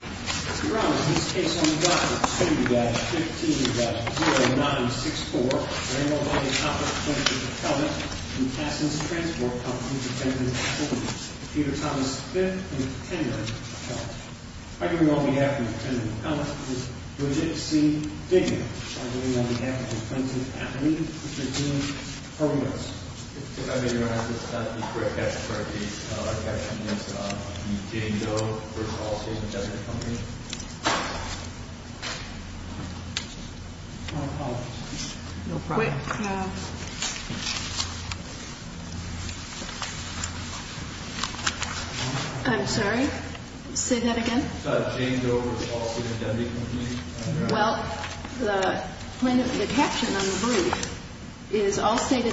Mr. Ramos, this case on document 2-15-0964, Ramos v. Topper, Plaintiff's Appellant, and Tassin's Transport Company, Defendant Holmes v. Peter Thomas, 5th and 10th Appellants. Arguing on behalf of the Defendant's Appellant is Bridget C. Diggins. Arguing on behalf of the Plaintiff's Appellant is Eugene Hermos. Mr. Ramos, could I have your attest that the correct caption for the caption is Jane Doe v. Allstate Indemnity Company? No problem. I'm sorry? Say that again? Jane Doe v. Allstate Indemnity Company. Well, the caption on the brief is Allstate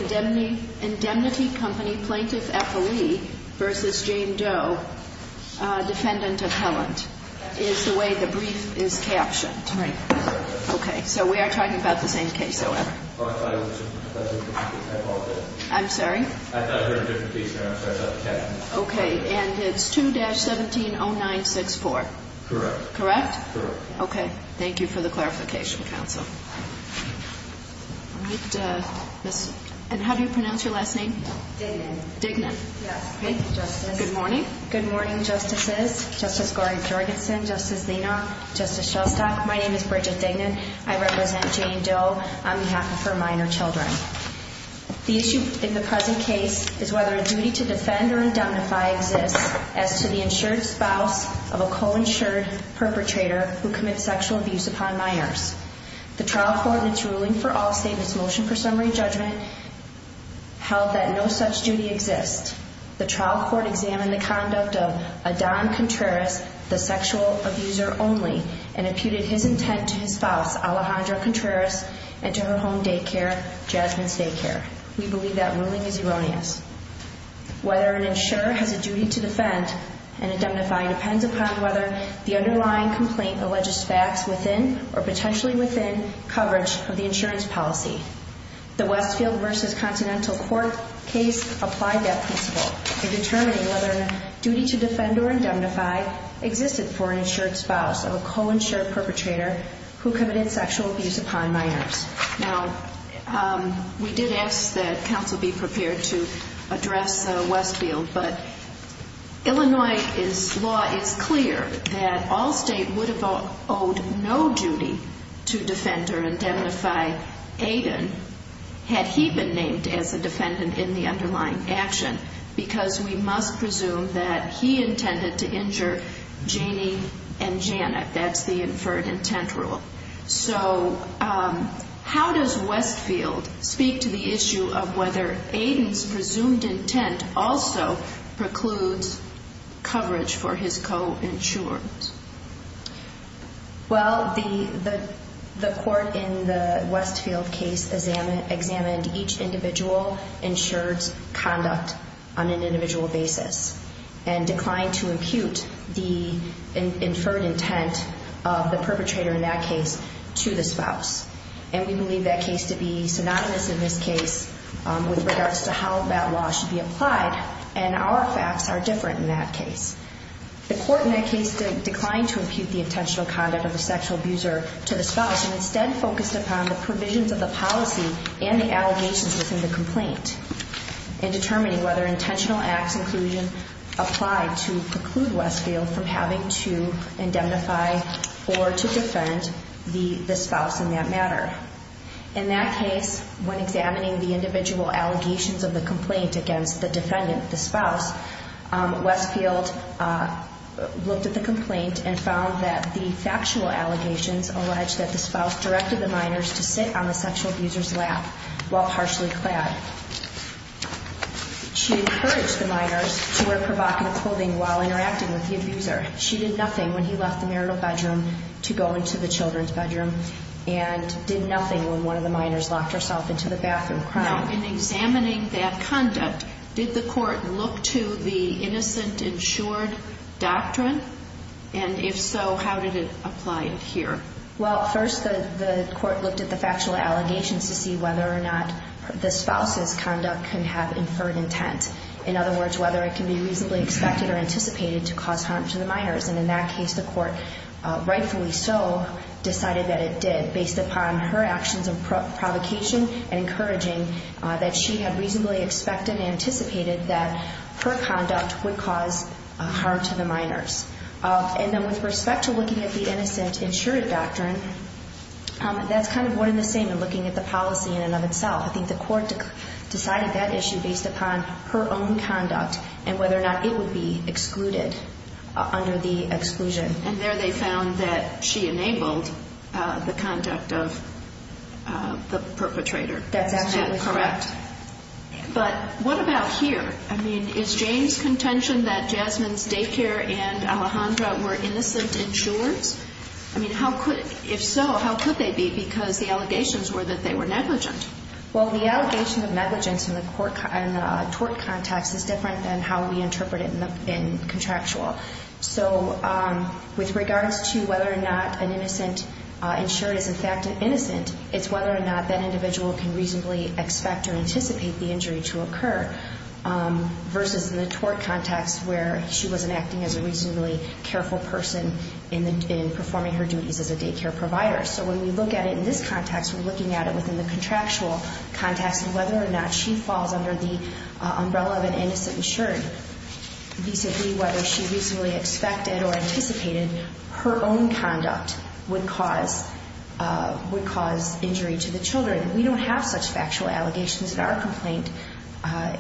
Indemnity Company Plaintiff's Appellant v. Jane Doe, Defendant Appellant, is the way the brief is captioned. Okay, so we are talking about the same case, however. I'm sorry? Okay, and it's 2-17-0964. Correct. Correct? Correct. Okay, thank you for the clarification, counsel. And how do you pronounce your last name? Dignan. Dignan. Yes, thank you, Justice. Good morning. Good morning, Justices. Justice Gordon-Jorgensen, Justice Nenar, Justice Shostak, my name is Bridget Dignan. I represent Jane Doe on behalf of her minor children. The issue in the present case is whether a duty to defend or indemnify exists as to the insured spouse of a co-insured perpetrator who commits sexual abuse upon Myers. The trial court in its ruling for Allstate in its motion for summary judgment held that no such duty exists. The trial court examined the conduct of Adon Contreras, the sexual abuser only, and imputed his intent to his spouse, Alejandra Contreras, and to her home daycare, Jasmine's Daycare. We believe that ruling is erroneous. Whether an insurer has a duty to defend and indemnify depends upon whether the underlying complaint alleges facts within or potentially within coverage of the insurance policy. The Westfield v. Continental Court case applied that principle in determining whether a duty to defend or indemnify existed for an insured spouse of a co-insured perpetrator who committed sexual abuse upon Myers. Now, we did ask that counsel be prepared to address Westfield, but Illinois law is clear that Allstate would have owed no duty to defend or indemnify Adon had he been named as a defendant in the underlying action, because we must presume that he intended to injure Janie and Janet. That's the inferred intent rule. So, how does Westfield speak to the issue of whether Adon's presumed intent also precludes coverage for his co-insured? Well, the court in the Westfield case examined each individual insured's conduct on an individual basis and declined to impute the inferred intent of the perpetrator in that case to the spouse. And we believe that case to be synonymous in this case with regards to how that law should be applied, and our facts are different in that case. The court in that case declined to impute the intentional conduct of the sexual abuser to the spouse and instead focused upon the provisions of the policy and the allegations within the complaint in determining whether intentional acts inclusion applied to preclude Westfield from having to indemnify or to defend the spouse in that matter. In that case, when examining the individual allegations of the complaint against the defendant, the spouse, Westfield looked at the complaint and found that the factual allegations alleged that the spouse directed the minors to sit on the sexual abuser's lap while partially clad. She encouraged the minors to wear provocative clothing while interacting with the abuser. She did nothing when he left the marital bedroom to go into the children's bedroom and did nothing when one of the minors locked herself into the bathroom crying. Now, in examining that conduct, did the court look to the innocent insured doctrine? And if so, how did it apply here? Well, first the court looked at the factual allegations to see whether or not the spouse's conduct can have inferred intent. In other words, whether it can be reasonably expected or anticipated to cause harm to the minors. And in that case, the court, rightfully so, decided that it did based upon her actions of provocation and encouraging that she had reasonably expected and anticipated that her conduct would cause harm to the minors. And then with respect to looking at the innocent insured doctrine, that's kind of one and the same in looking at the policy in and of itself. I think the court decided that issue based upon her own conduct and whether or not it would be excluded under the exclusion. And there they found that she enabled the conduct of the perpetrator. That's absolutely correct. But what about here? I mean, is Jane's contention that Jasmine's daycare and Alejandra were innocent insurers? I mean, if so, how could they be? Because the allegations were that they were negligent. Well, the allegation of negligence in the tort context is different than how we interpret it in contractual. So with regards to whether or not an innocent insured is in fact innocent, it's whether or not that individual can reasonably expect or anticipate the injury to occur. Versus in the tort context where she wasn't acting as a reasonably careful person in performing her duties as a daycare provider. So when we look at it in this context, we're looking at it within the contractual context of whether or not she falls under the umbrella of an innocent insured. Basically, whether she reasonably expected or anticipated her own conduct would cause injury to the children. We don't have such factual allegations in our complaint.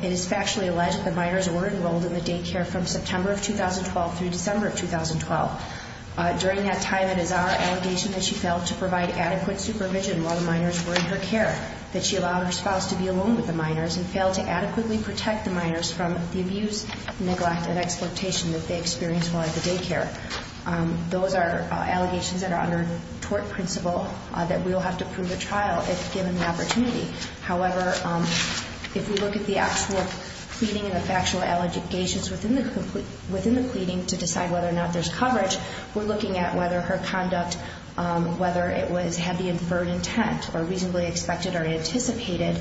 It is factually alleged that the minors were enrolled in the daycare from September of 2012 through December of 2012. During that time, it is our allegation that she failed to provide adequate supervision while the minors were in her care. That she allowed her spouse to be alone with the minors and failed to adequately protect the minors from the abuse, neglect, and exploitation that they experienced while at the daycare. Those are allegations that are under tort principle that we will have to prove at trial if given the opportunity. However, if we look at the actual pleading and the factual allegations within the pleading to decide whether or not there's coverage, we're looking at whether her conduct, whether it had the inferred intent or reasonably expected or anticipated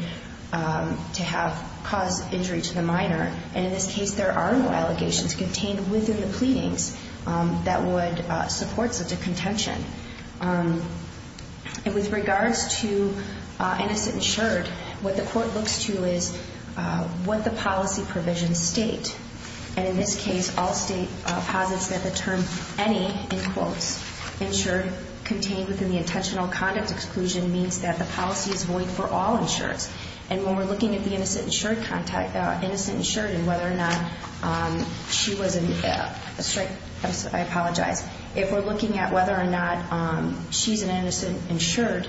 to have caused injury to the minor. And in this case, there are no allegations contained within the pleadings that would support such a contention. And with regards to innocent insured, what the court looks to is what the policy provisions state. And in this case, all state posits that the term any, in quotes, insured contained within the intentional conduct exclusion means that the policy is void for all insureds. And when we're looking at the innocent insured contact, innocent insured and whether or not she was in, I apologize. If we're looking at whether or not she's an innocent insured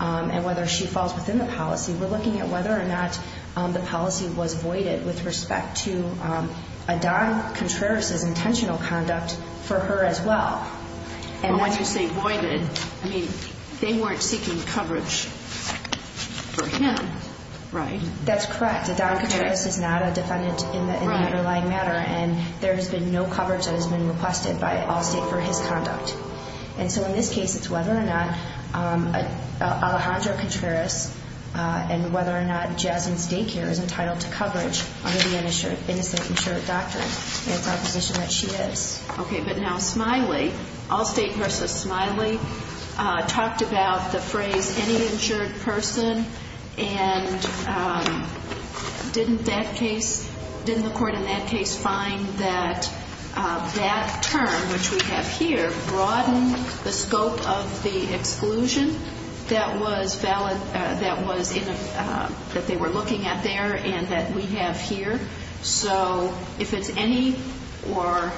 and whether she falls within the policy, we're looking at whether or not the policy was voided with respect to Adon Contreras' intentional conduct for her as well. And when you say voided, I mean, they weren't seeking coverage for him, right? That's correct. Adon Contreras is not a defendant in the underlying matter. And there has been no coverage that has been requested by all state for his conduct. And so in this case, it's whether or not Alejandro Contreras and whether or not Jasmine's daycare is entitled to coverage under the innocent insured doctrine. It's our position that she is. Okay, but now Smiley, all state versus Smiley, talked about the phrase any insured person. And didn't that case, didn't the court in that case find that that term, which we have here, broadened the scope of the exclusion that was valid, that was in, that they were looking at there and that we have here? So if it's any or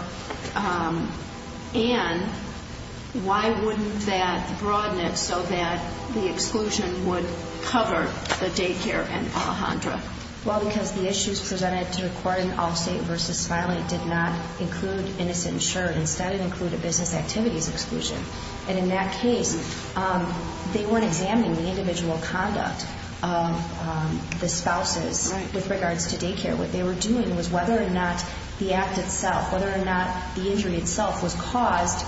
and, why wouldn't that broaden it so that the exclusion would cover the daycare and Alejandro? Well, because the issues presented to the court in all state versus Smiley did not include innocent insured. Instead, it included business activities exclusion. And in that case, they weren't examining the individual conduct of the spouses with regards to daycare. What they were doing was whether or not the act itself, whether or not the injury itself was caused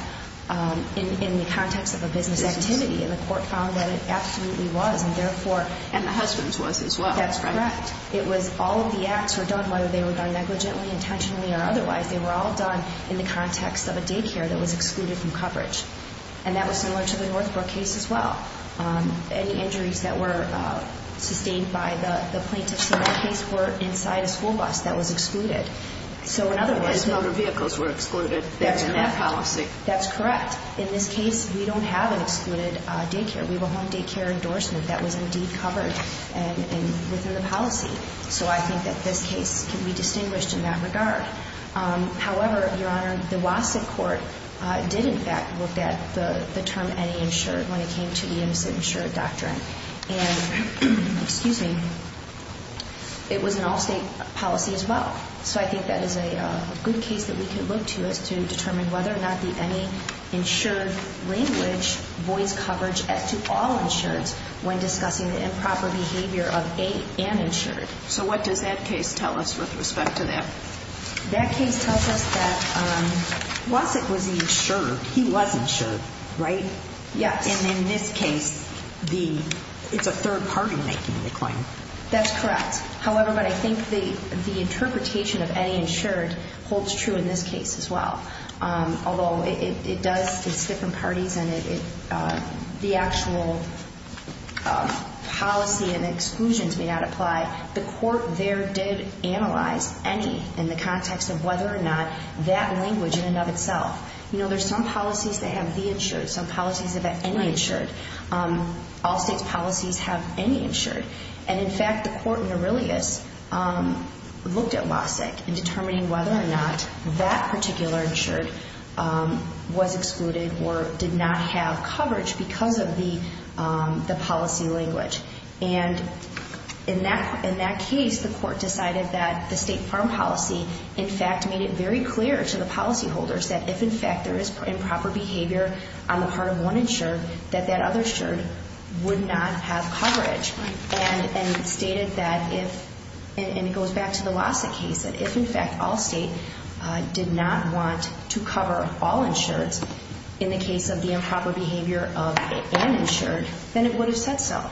in the context of a business activity. And the court found that it absolutely was. And therefore. And the husband's was as well. That's correct. It was all of the acts were done, whether they were done negligently, intentionally, or otherwise. They were all done in the context of a daycare that was excluded from coverage. And that was similar to the Northbrook case as well. Any injuries that were sustained by the plaintiff's case were inside a school bus that was excluded. So in other words, motor vehicles were excluded. That's correct. That's correct. In this case, we don't have an excluded daycare. We have a home daycare endorsement that was indeed covered and within the policy. So I think that this case can be distinguished in that regard. However, Your Honor, the Wasick court did, in fact, look at the term any insured when it came to the insured doctrine. And, excuse me, it was an all-state policy as well. So I think that is a good case that we can look to as to determine whether or not the any insured language voids coverage as to all insureds when discussing the improper behavior of an insured. So what does that case tell us with respect to that? That case tells us that Wasick was insured. He was insured, right? Yes. And in this case, it's a third party making the claim. That's correct. However, I think the interpretation of any insured holds true in this case as well. Although it does, it's different parties and the actual policy and exclusions may not apply. The court there did analyze any in the context of whether or not that language in and of itself. You know, there's some policies that have the insured, some policies that have any insured. And, in fact, the court in Aurelius looked at Wasick in determining whether or not that particular insured was excluded or did not have coverage because of the policy language. And in that case, the court decided that the state farm policy, in fact, made it very clear to the policyholders that if, in fact, there is improper behavior on the part of one insured, that that other insured would not have coverage. And stated that if, and it goes back to the Wasick case, that if, in fact, all state did not want to cover all insureds in the case of the improper behavior of an insured, then it would have said so.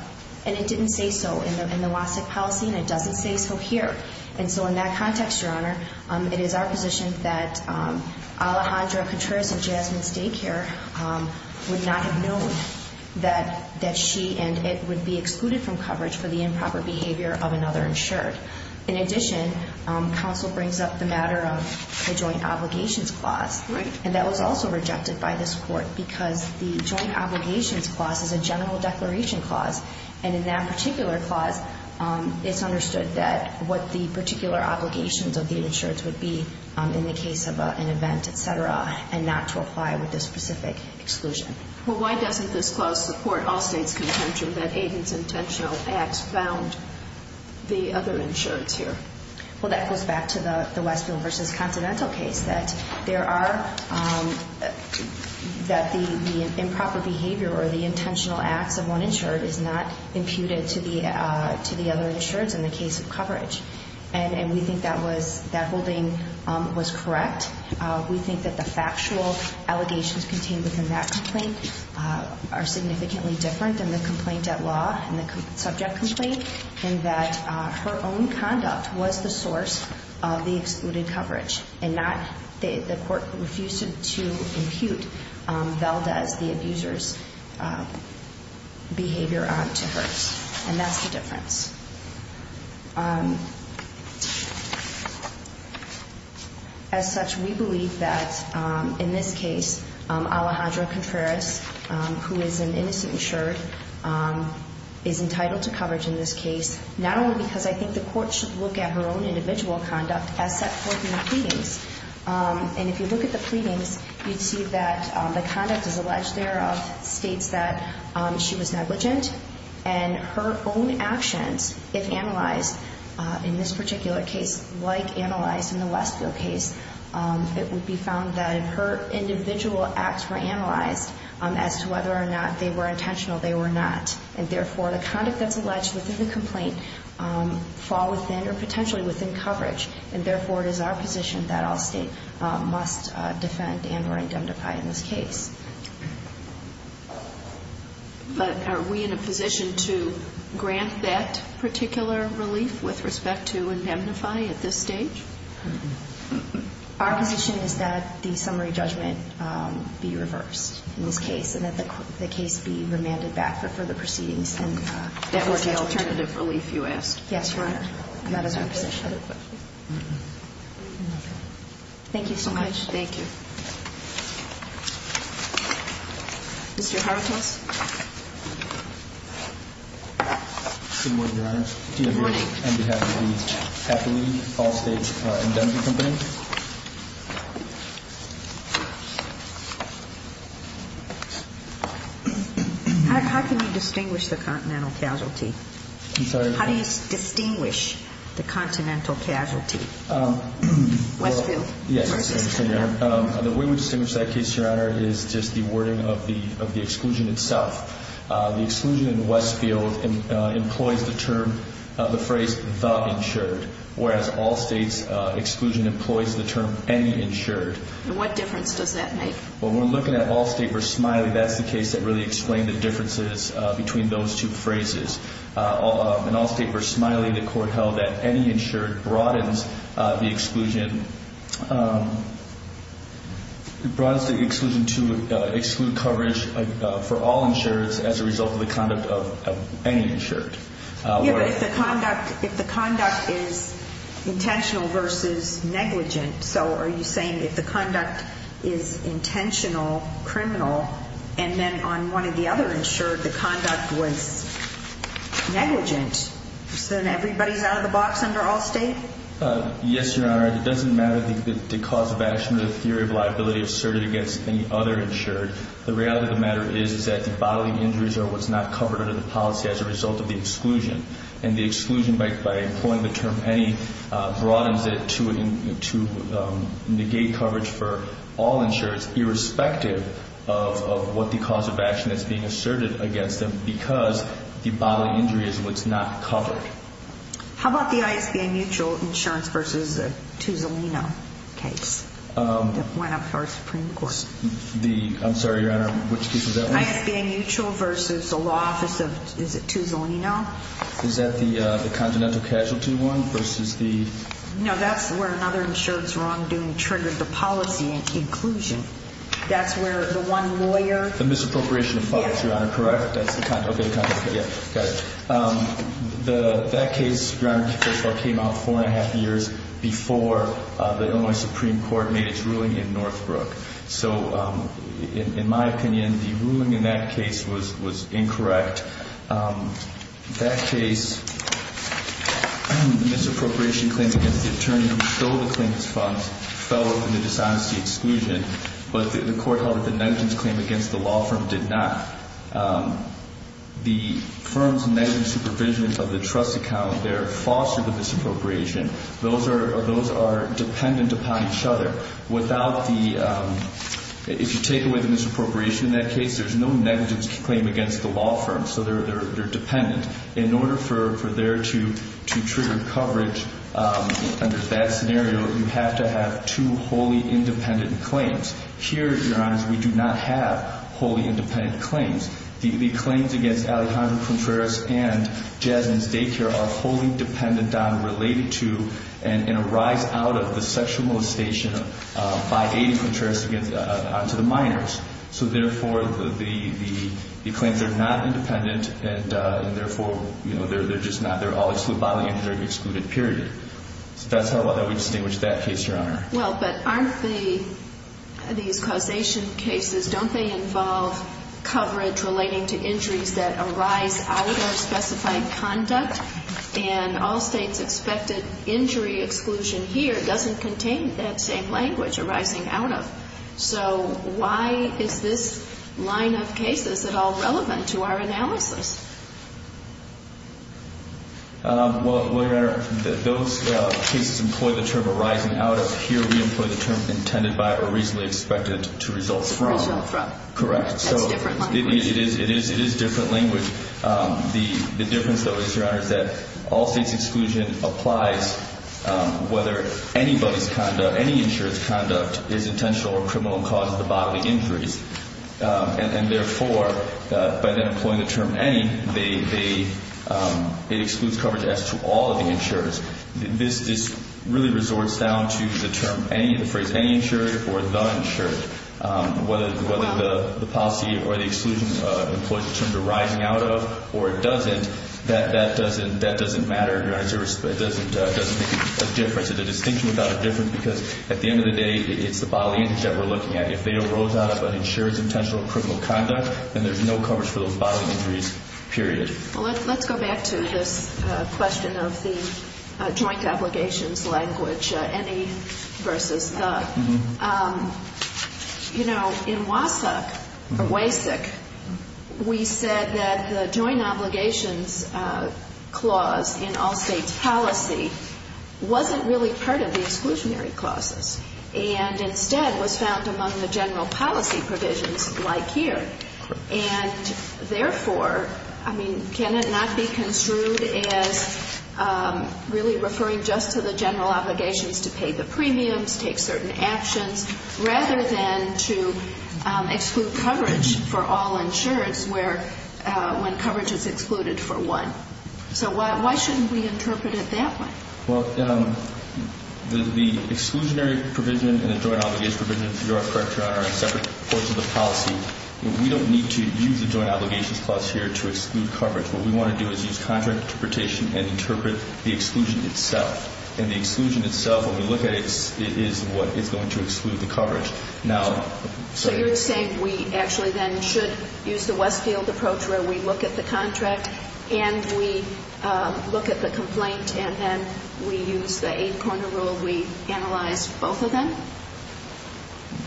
And it didn't say so in the Wasick policy and it doesn't say so here. And so in that context, Your Honor, it is our position that Alejandra Contreras in Jasmine's daycare would not have known that she and it would be excluded from coverage for the improper behavior of another insured. In addition, counsel brings up the matter of the joint obligations clause. Right. And that was also rejected by this court because the joint obligations clause is a general declaration clause. And in that particular clause, it's understood that what the particular obligations of the insureds would be in the case of an event, et cetera, and not to apply with this specific exclusion. Well, why doesn't this clause support all states' contention that Aiden's intentional acts found the other insureds here? Well, that goes back to the Westfield v. Continental case, that there are – that the improper behavior or the intentional acts of one insured is not imputed to the other insureds in the case of coverage. And we think that was – that holding was correct. We think that the factual allegations contained within that complaint are significantly different than the complaint at law and the subject complaint in that her own conduct was the source of the excluded coverage and not – the court refused to impute Velda's, the abuser's, behavior onto hers. And that's the difference. As such, we believe that in this case, Alejandra Contreras, who is an innocent insured, is entitled to coverage in this case, not only because I think the court should look at her own individual conduct as set forth in the pleadings. And if you look at the pleadings, you'd see that the conduct as alleged thereof states that she was negligent, and her own actions, if analyzed in this particular case, like analyzed in the Westfield case, it would be found that her individual acts were analyzed as to whether or not they were intentional, they were not. And therefore, the conduct that's alleged within the complaint fall within or potentially within coverage. And therefore, it is our position that all State must defend and or indemnify in this case. But are we in a position to grant that particular relief with respect to indemnify at this stage? Our position is that the summary judgment be reversed in this case, and that the case be remanded back for further proceedings. That were the alternative relief, you ask? Yes, Your Honor. That is our position. Thank you so much. Thank you. Good morning, Your Honor. Good morning. I'm here on behalf of the HACCP, all States Indemnity Company. How can you distinguish the continental casualty? I'm sorry? How do you distinguish the continental casualty? Westfield versus Canada. Yes, Your Honor. The way we distinguish that case, Your Honor, is just the wording of the exclusion itself. The exclusion in Westfield employs the term, the phrase, the insured, whereas all States exclusion employs the term any insured. And what difference does that make? When we're looking at all State versus Smiley, that's the case that really explained the differences between those two phrases. In all State versus Smiley, the court held that any insured broadens the exclusion to exclude coverage for all insureds as a result of the conduct of any insured. Yes, but if the conduct is intentional versus negligent, so are you saying if the conduct is intentional, criminal, and then on one of the other insured, the conduct was negligent, so then everybody's out of the box under all State? Yes, Your Honor. It doesn't matter the cause of action or the theory of liability asserted against any other insured. The reality of the matter is that the bodily injuries are what's not covered under the policy as a result of the exclusion. And the exclusion by employing the term any broadens it to negate coverage for all insureds, irrespective of what the cause of action that's being asserted against them because the bodily injury is what's not covered. How about the ISBA mutual insurance versus the Tuzolino case that went up for a Supreme Court? I'm sorry, Your Honor, which case was that one? The ISBA mutual versus the law office of Tuzolino. Is that the continental casualty one versus the? No, that's where another insured's wrongdoing triggered the policy inclusion. That's where the one lawyer. The misappropriation of funds, Your Honor, correct? Yes. Okay, got it. That case, Your Honor, first of all, came out four and a half years before the Illinois Supreme Court made its ruling in Northbrook. So in my opinion, the ruling in that case was incorrect. That case, the misappropriation claims against the attorney who stole the claimant's funds fell open to dishonesty exclusion, but the court held that the negligence claim against the law firm did not. The firm's negligent supervision of the trust account there fostered the misappropriation. Those are dependent upon each other. If you take away the misappropriation in that case, there's no negligence claim against the law firm, so they're dependent. In order for there to trigger coverage under that scenario, you have to have two wholly independent claims. Here, Your Honor, we do not have wholly independent claims. The claims against Alejandro Contreras and Jazmine's daycare are wholly dependent on, related to, and arise out of the sexual molestation by Aidy Contreras onto the minors. So therefore, the claims are not independent, and therefore, you know, they're just not. They're all excluded by the injunctive excluded period. So that's how we distinguish that case, Your Honor. Well, but aren't these causation cases, don't they involve coverage relating to injuries that arise out of specified conduct? And all states expected injury exclusion here doesn't contain that same language, arising out of. So why is this line of cases at all relevant to our analysis? Well, Your Honor, those cases employ the term arising out of. Here, we employ the term intended by or reasonably expected to result from. Reasonably from. Correct. That's different language. It is different language. The difference, though, is, Your Honor, is that all states exclusion applies whether anybody's conduct, any insurance conduct is intentional or criminal and causes the bodily injuries. And therefore, by then employing the term any, it excludes coverage as to all of the insurers. This really resorts down to the term any, the phrase any insurer or the insurer. Whether the policy or the exclusion employs the term arising out of or it doesn't, that doesn't matter. It doesn't make a difference. It's a distinction without a difference because at the end of the day, it's the bodily injuries that we're looking at. If they arose out of an insurer's intentional or criminal conduct, then there's no coverage for those bodily injuries, period. Well, let's go back to this question of the joint obligations language, any versus the. You know, in WASOC or WASIC, we said that the joint obligations clause in all states policy wasn't really part of the exclusionary clauses and instead was found among the general policy provisions like here. And therefore, I mean, can it not be construed as really referring just to the general obligations to pay the premiums, take certain actions, rather than to exclude coverage for all insurers when coverage is excluded for one? So why shouldn't we interpret it that way? Well, the exclusionary provision and the joint obligation provision, if you're correct, are separate parts of the policy. We don't need to use the joint obligations clause here to exclude coverage. What we want to do is use contract interpretation and interpret the exclusion itself. And the exclusion itself, when we look at it, is what is going to exclude the coverage. Now, so you're saying we actually then should use the Westfield approach where we look at the contract and we look at the complaint and then we use the eight-corner rule, we analyze both of them?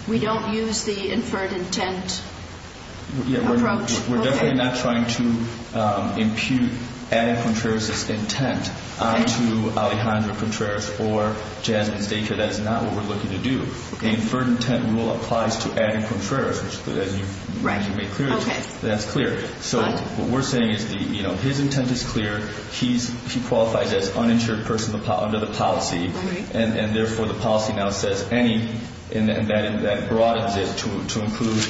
We don't use the inferred intent approach? Yeah, we're definitely not trying to impute adding Contreras' intent to Alejandro Contreras or Jasmine Staker. That's not what we're looking to do. The inferred intent rule applies to adding Contreras, as you made clear. Okay. That's clear. So what we're saying is, you know, his intent is clear. He qualifies as uninsured person under the policy. All right. And, therefore, the policy now says any, and that broadens it to include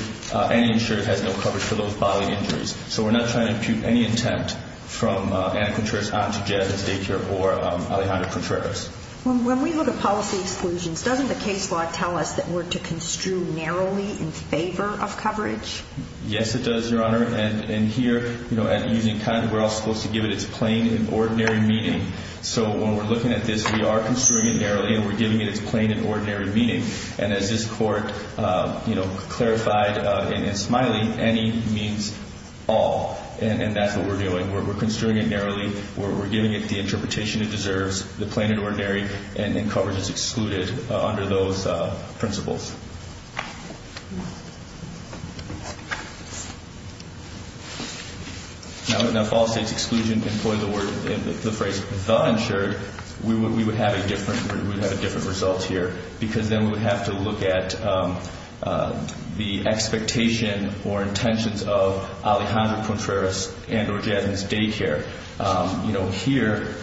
any insurer that has no coverage for those bodily injuries. So we're not trying to impute any intent from Anna Contreras on to Jasmine Staker or Alejandro Contreras. When we look at policy exclusions, doesn't the case law tell us that we're to construe narrowly in favor of coverage? Yes, it does, Your Honor. And here, you know, we're also supposed to give it its plain and ordinary meaning. So when we're looking at this, we are construing it narrowly and we're giving it its plain and ordinary meaning. And as this Court, you know, clarified in Smiley, any means all. And that's what we're doing. We're construing it narrowly. We're giving it the interpretation it deserves, the plain and ordinary, and coverage is excluded under those principles. Now, if all states exclusion employed the phrase, the insured, we would have a different result here because then we would have to look at the expectation or intentions of Alejandro Contreras and or Jasmine Staker. You know, here,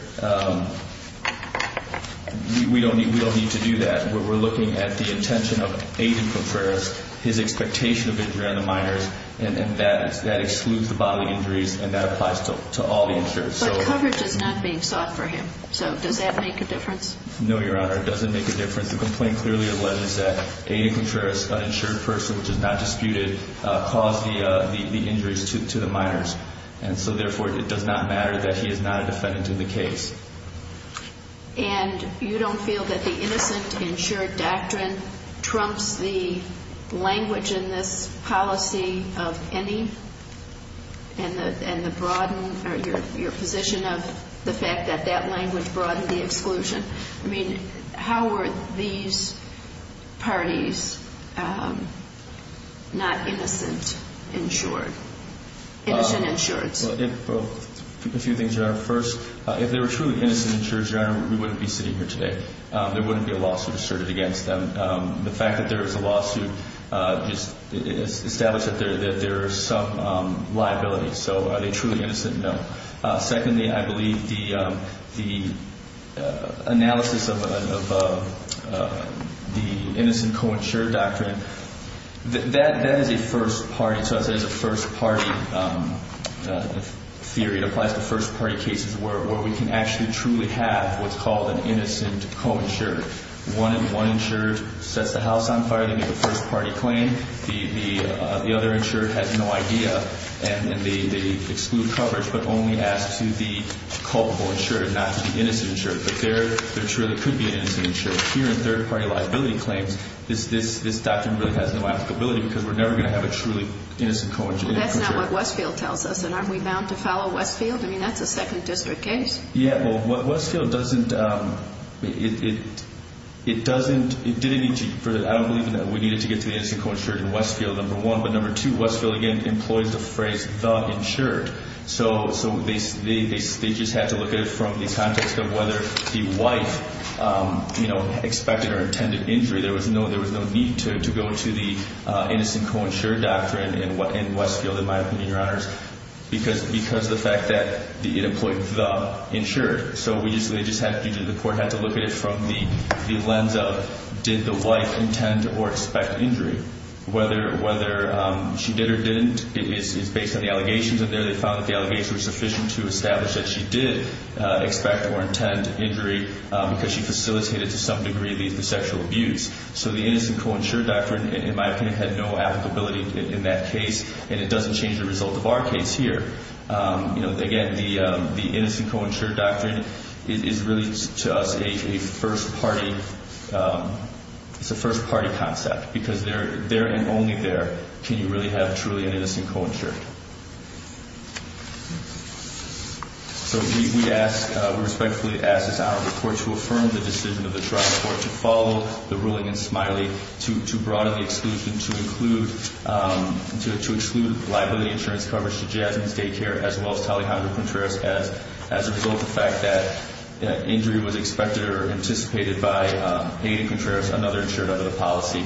we don't need to do that. We're looking at the intention of Alejandro Contreras, his expectation of injury on the minors, and that excludes the bodily injuries and that applies to all the insured. But coverage is not being sought for him. So does that make a difference? No, Your Honor, it doesn't make a difference. The complaint clearly alleges that Alejandro Contreras, an insured person, which is not disputed, caused the injuries to the minors. And so, therefore, it does not matter that he is not a defendant in the case. And you don't feel that the innocent-insured doctrine trumps the language in this policy of any? And the broaden or your position of the fact that that language broadened the exclusion? I mean, how are these parties not innocent-insured? Innocent-insured. Well, a few things, Your Honor. First, if they were truly innocent-insured, Your Honor, we wouldn't be sitting here today. There wouldn't be a lawsuit asserted against them. The fact that there is a lawsuit just establishes that there is some liability. So are they truly innocent? No. Secondly, I believe the analysis of the innocent-co-insured doctrine, that is a first-party theory. It applies to first-party cases where we can actually truly have what's called an innocent-co-insured. One insured sets the house on fire to make a first-party claim. The other insured has no idea. And they exclude coverage but only ask to the culpable insured, not to the innocent-insured. But there truly could be an innocent-insured. Here in third-party liability claims, this doctrine really has no applicability because we're never going to have a truly innocent-co-insured. That's not what Westfield tells us. And aren't we bound to follow Westfield? I mean, that's a second-district case. Yeah, well, Westfield doesn't – it doesn't – it didn't need to – I don't believe that we needed to get to the innocent-co-insured in Westfield, number one. But number two, Westfield, again, employs the phrase the insured. So they just had to look at it from the context of whether the wife expected or intended injury. There was no need to go to the innocent-co-insured doctrine in Westfield, in my opinion, Your Honors, because of the fact that it employed the insured. So they just had to – the court had to look at it from the lens of did the wife intend or expect injury. Whether she did or didn't is based on the allegations. And there they found that the allegations were sufficient to establish that she did expect or intend injury because she facilitated, to some degree, the sexual abuse. So the innocent-co-insured doctrine, in my opinion, had no applicability in that case. And it doesn't change the result of our case here. Again, the innocent-co-insured doctrine is really, to us, a first-party – it's a first-party concept because there and only there can you really have truly an innocent-co-insured. So we ask – we respectfully ask this Honorable Court to affirm the decision of the trial court to follow the ruling in Smiley to broaden the exclusion to include – to exclude liability insurance coverage to Jasmine's daycare as well as to Alejandro Contreras as a result of the fact that injury was expected or anticipated by Aiden Contreras, another insured under the policy.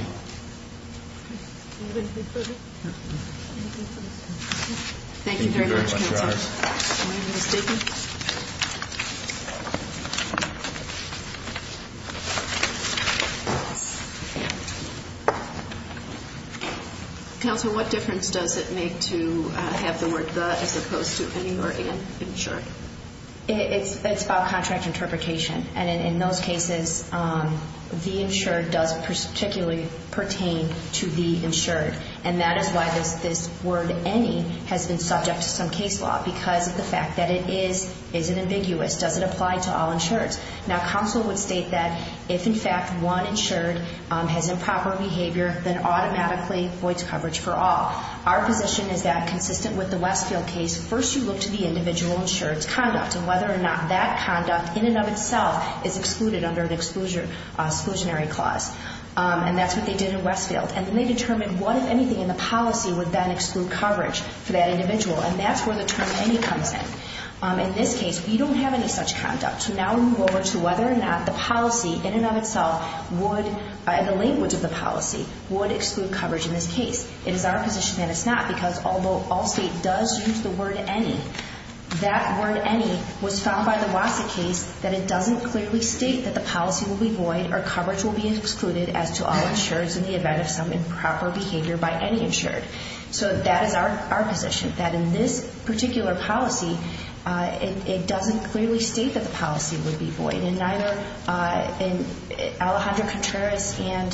Thank you very much, Counsel. Thank you very much, Your Honors. Counsel, what difference does it make to have the word the as opposed to any or an insured? It's about contract interpretation. And in those cases, the insured does particularly pertain to the insured. And that is why this word any has been subject to some case law because of the fact that it is – is it ambiguous? Does it apply to all insureds? Now, Counsel would state that if, in fact, one insured has improper behavior, then automatically voids coverage for all. Our position is that consistent with the Westfield case, first you look to the individual insured's conduct and whether or not that conduct in and of itself is excluded under an exclusionary clause. And that's what they did in Westfield. And then they determined what, if anything, in the policy would then exclude coverage for that individual. And that's where the term any comes in. In this case, we don't have any such conduct. So now we move over to whether or not the policy in and of itself would – the language of the policy would exclude coverage in this case. It is our position that it's not because although all state does use the word any, that word any was found by the Wasik case that it doesn't clearly state that the policy will be void or coverage will be excluded as to all insureds in the event of some improper behavior by any insured. So that is our position, that in this particular policy, it doesn't clearly state that the policy would be void. And neither – and Alejandro Contreras and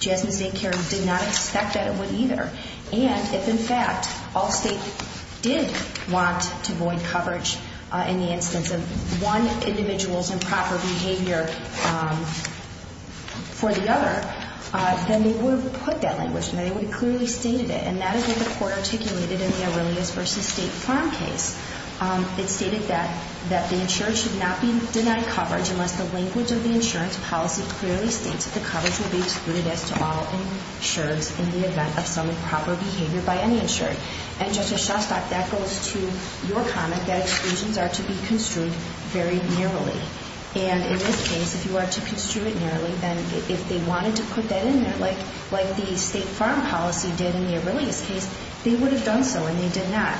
Jasmine Zancari did not expect that it would either. And if, in fact, all state did want to void coverage in the instance of one individual's improper behavior for the other, then they would have put that language and they would have clearly stated it. And that is what the Court articulated in the Aurelius v. State Farm case. It stated that the insured should not be denied coverage unless the language of the insurance policy clearly states that the coverage will be excluded as to all insureds in the event of some improper behavior by any insured. And, Justice Shostak, that goes to your comment that exclusions are to be construed very narrowly. And in this case, if you are to construe it narrowly, then if they wanted to put that in there, like the State Farm policy did in the Aurelius case, they would have done so and they did not.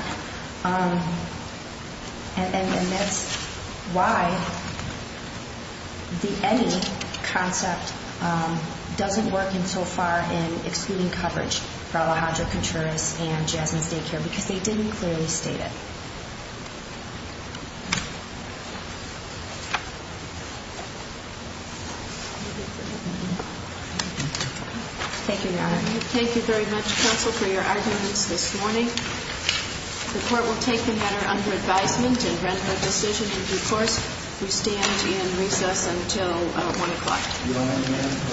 And that's why the any concept doesn't work so far in excluding coverage for Alejandro Contreras and Jasmine Zancari because they didn't clearly state it. Thank you, Your Honor. Thank you very much, Counsel, for your arguments this morning. The Court will take the matter under advisement and render a decision in due course. We stand in recess until 1 o'clock.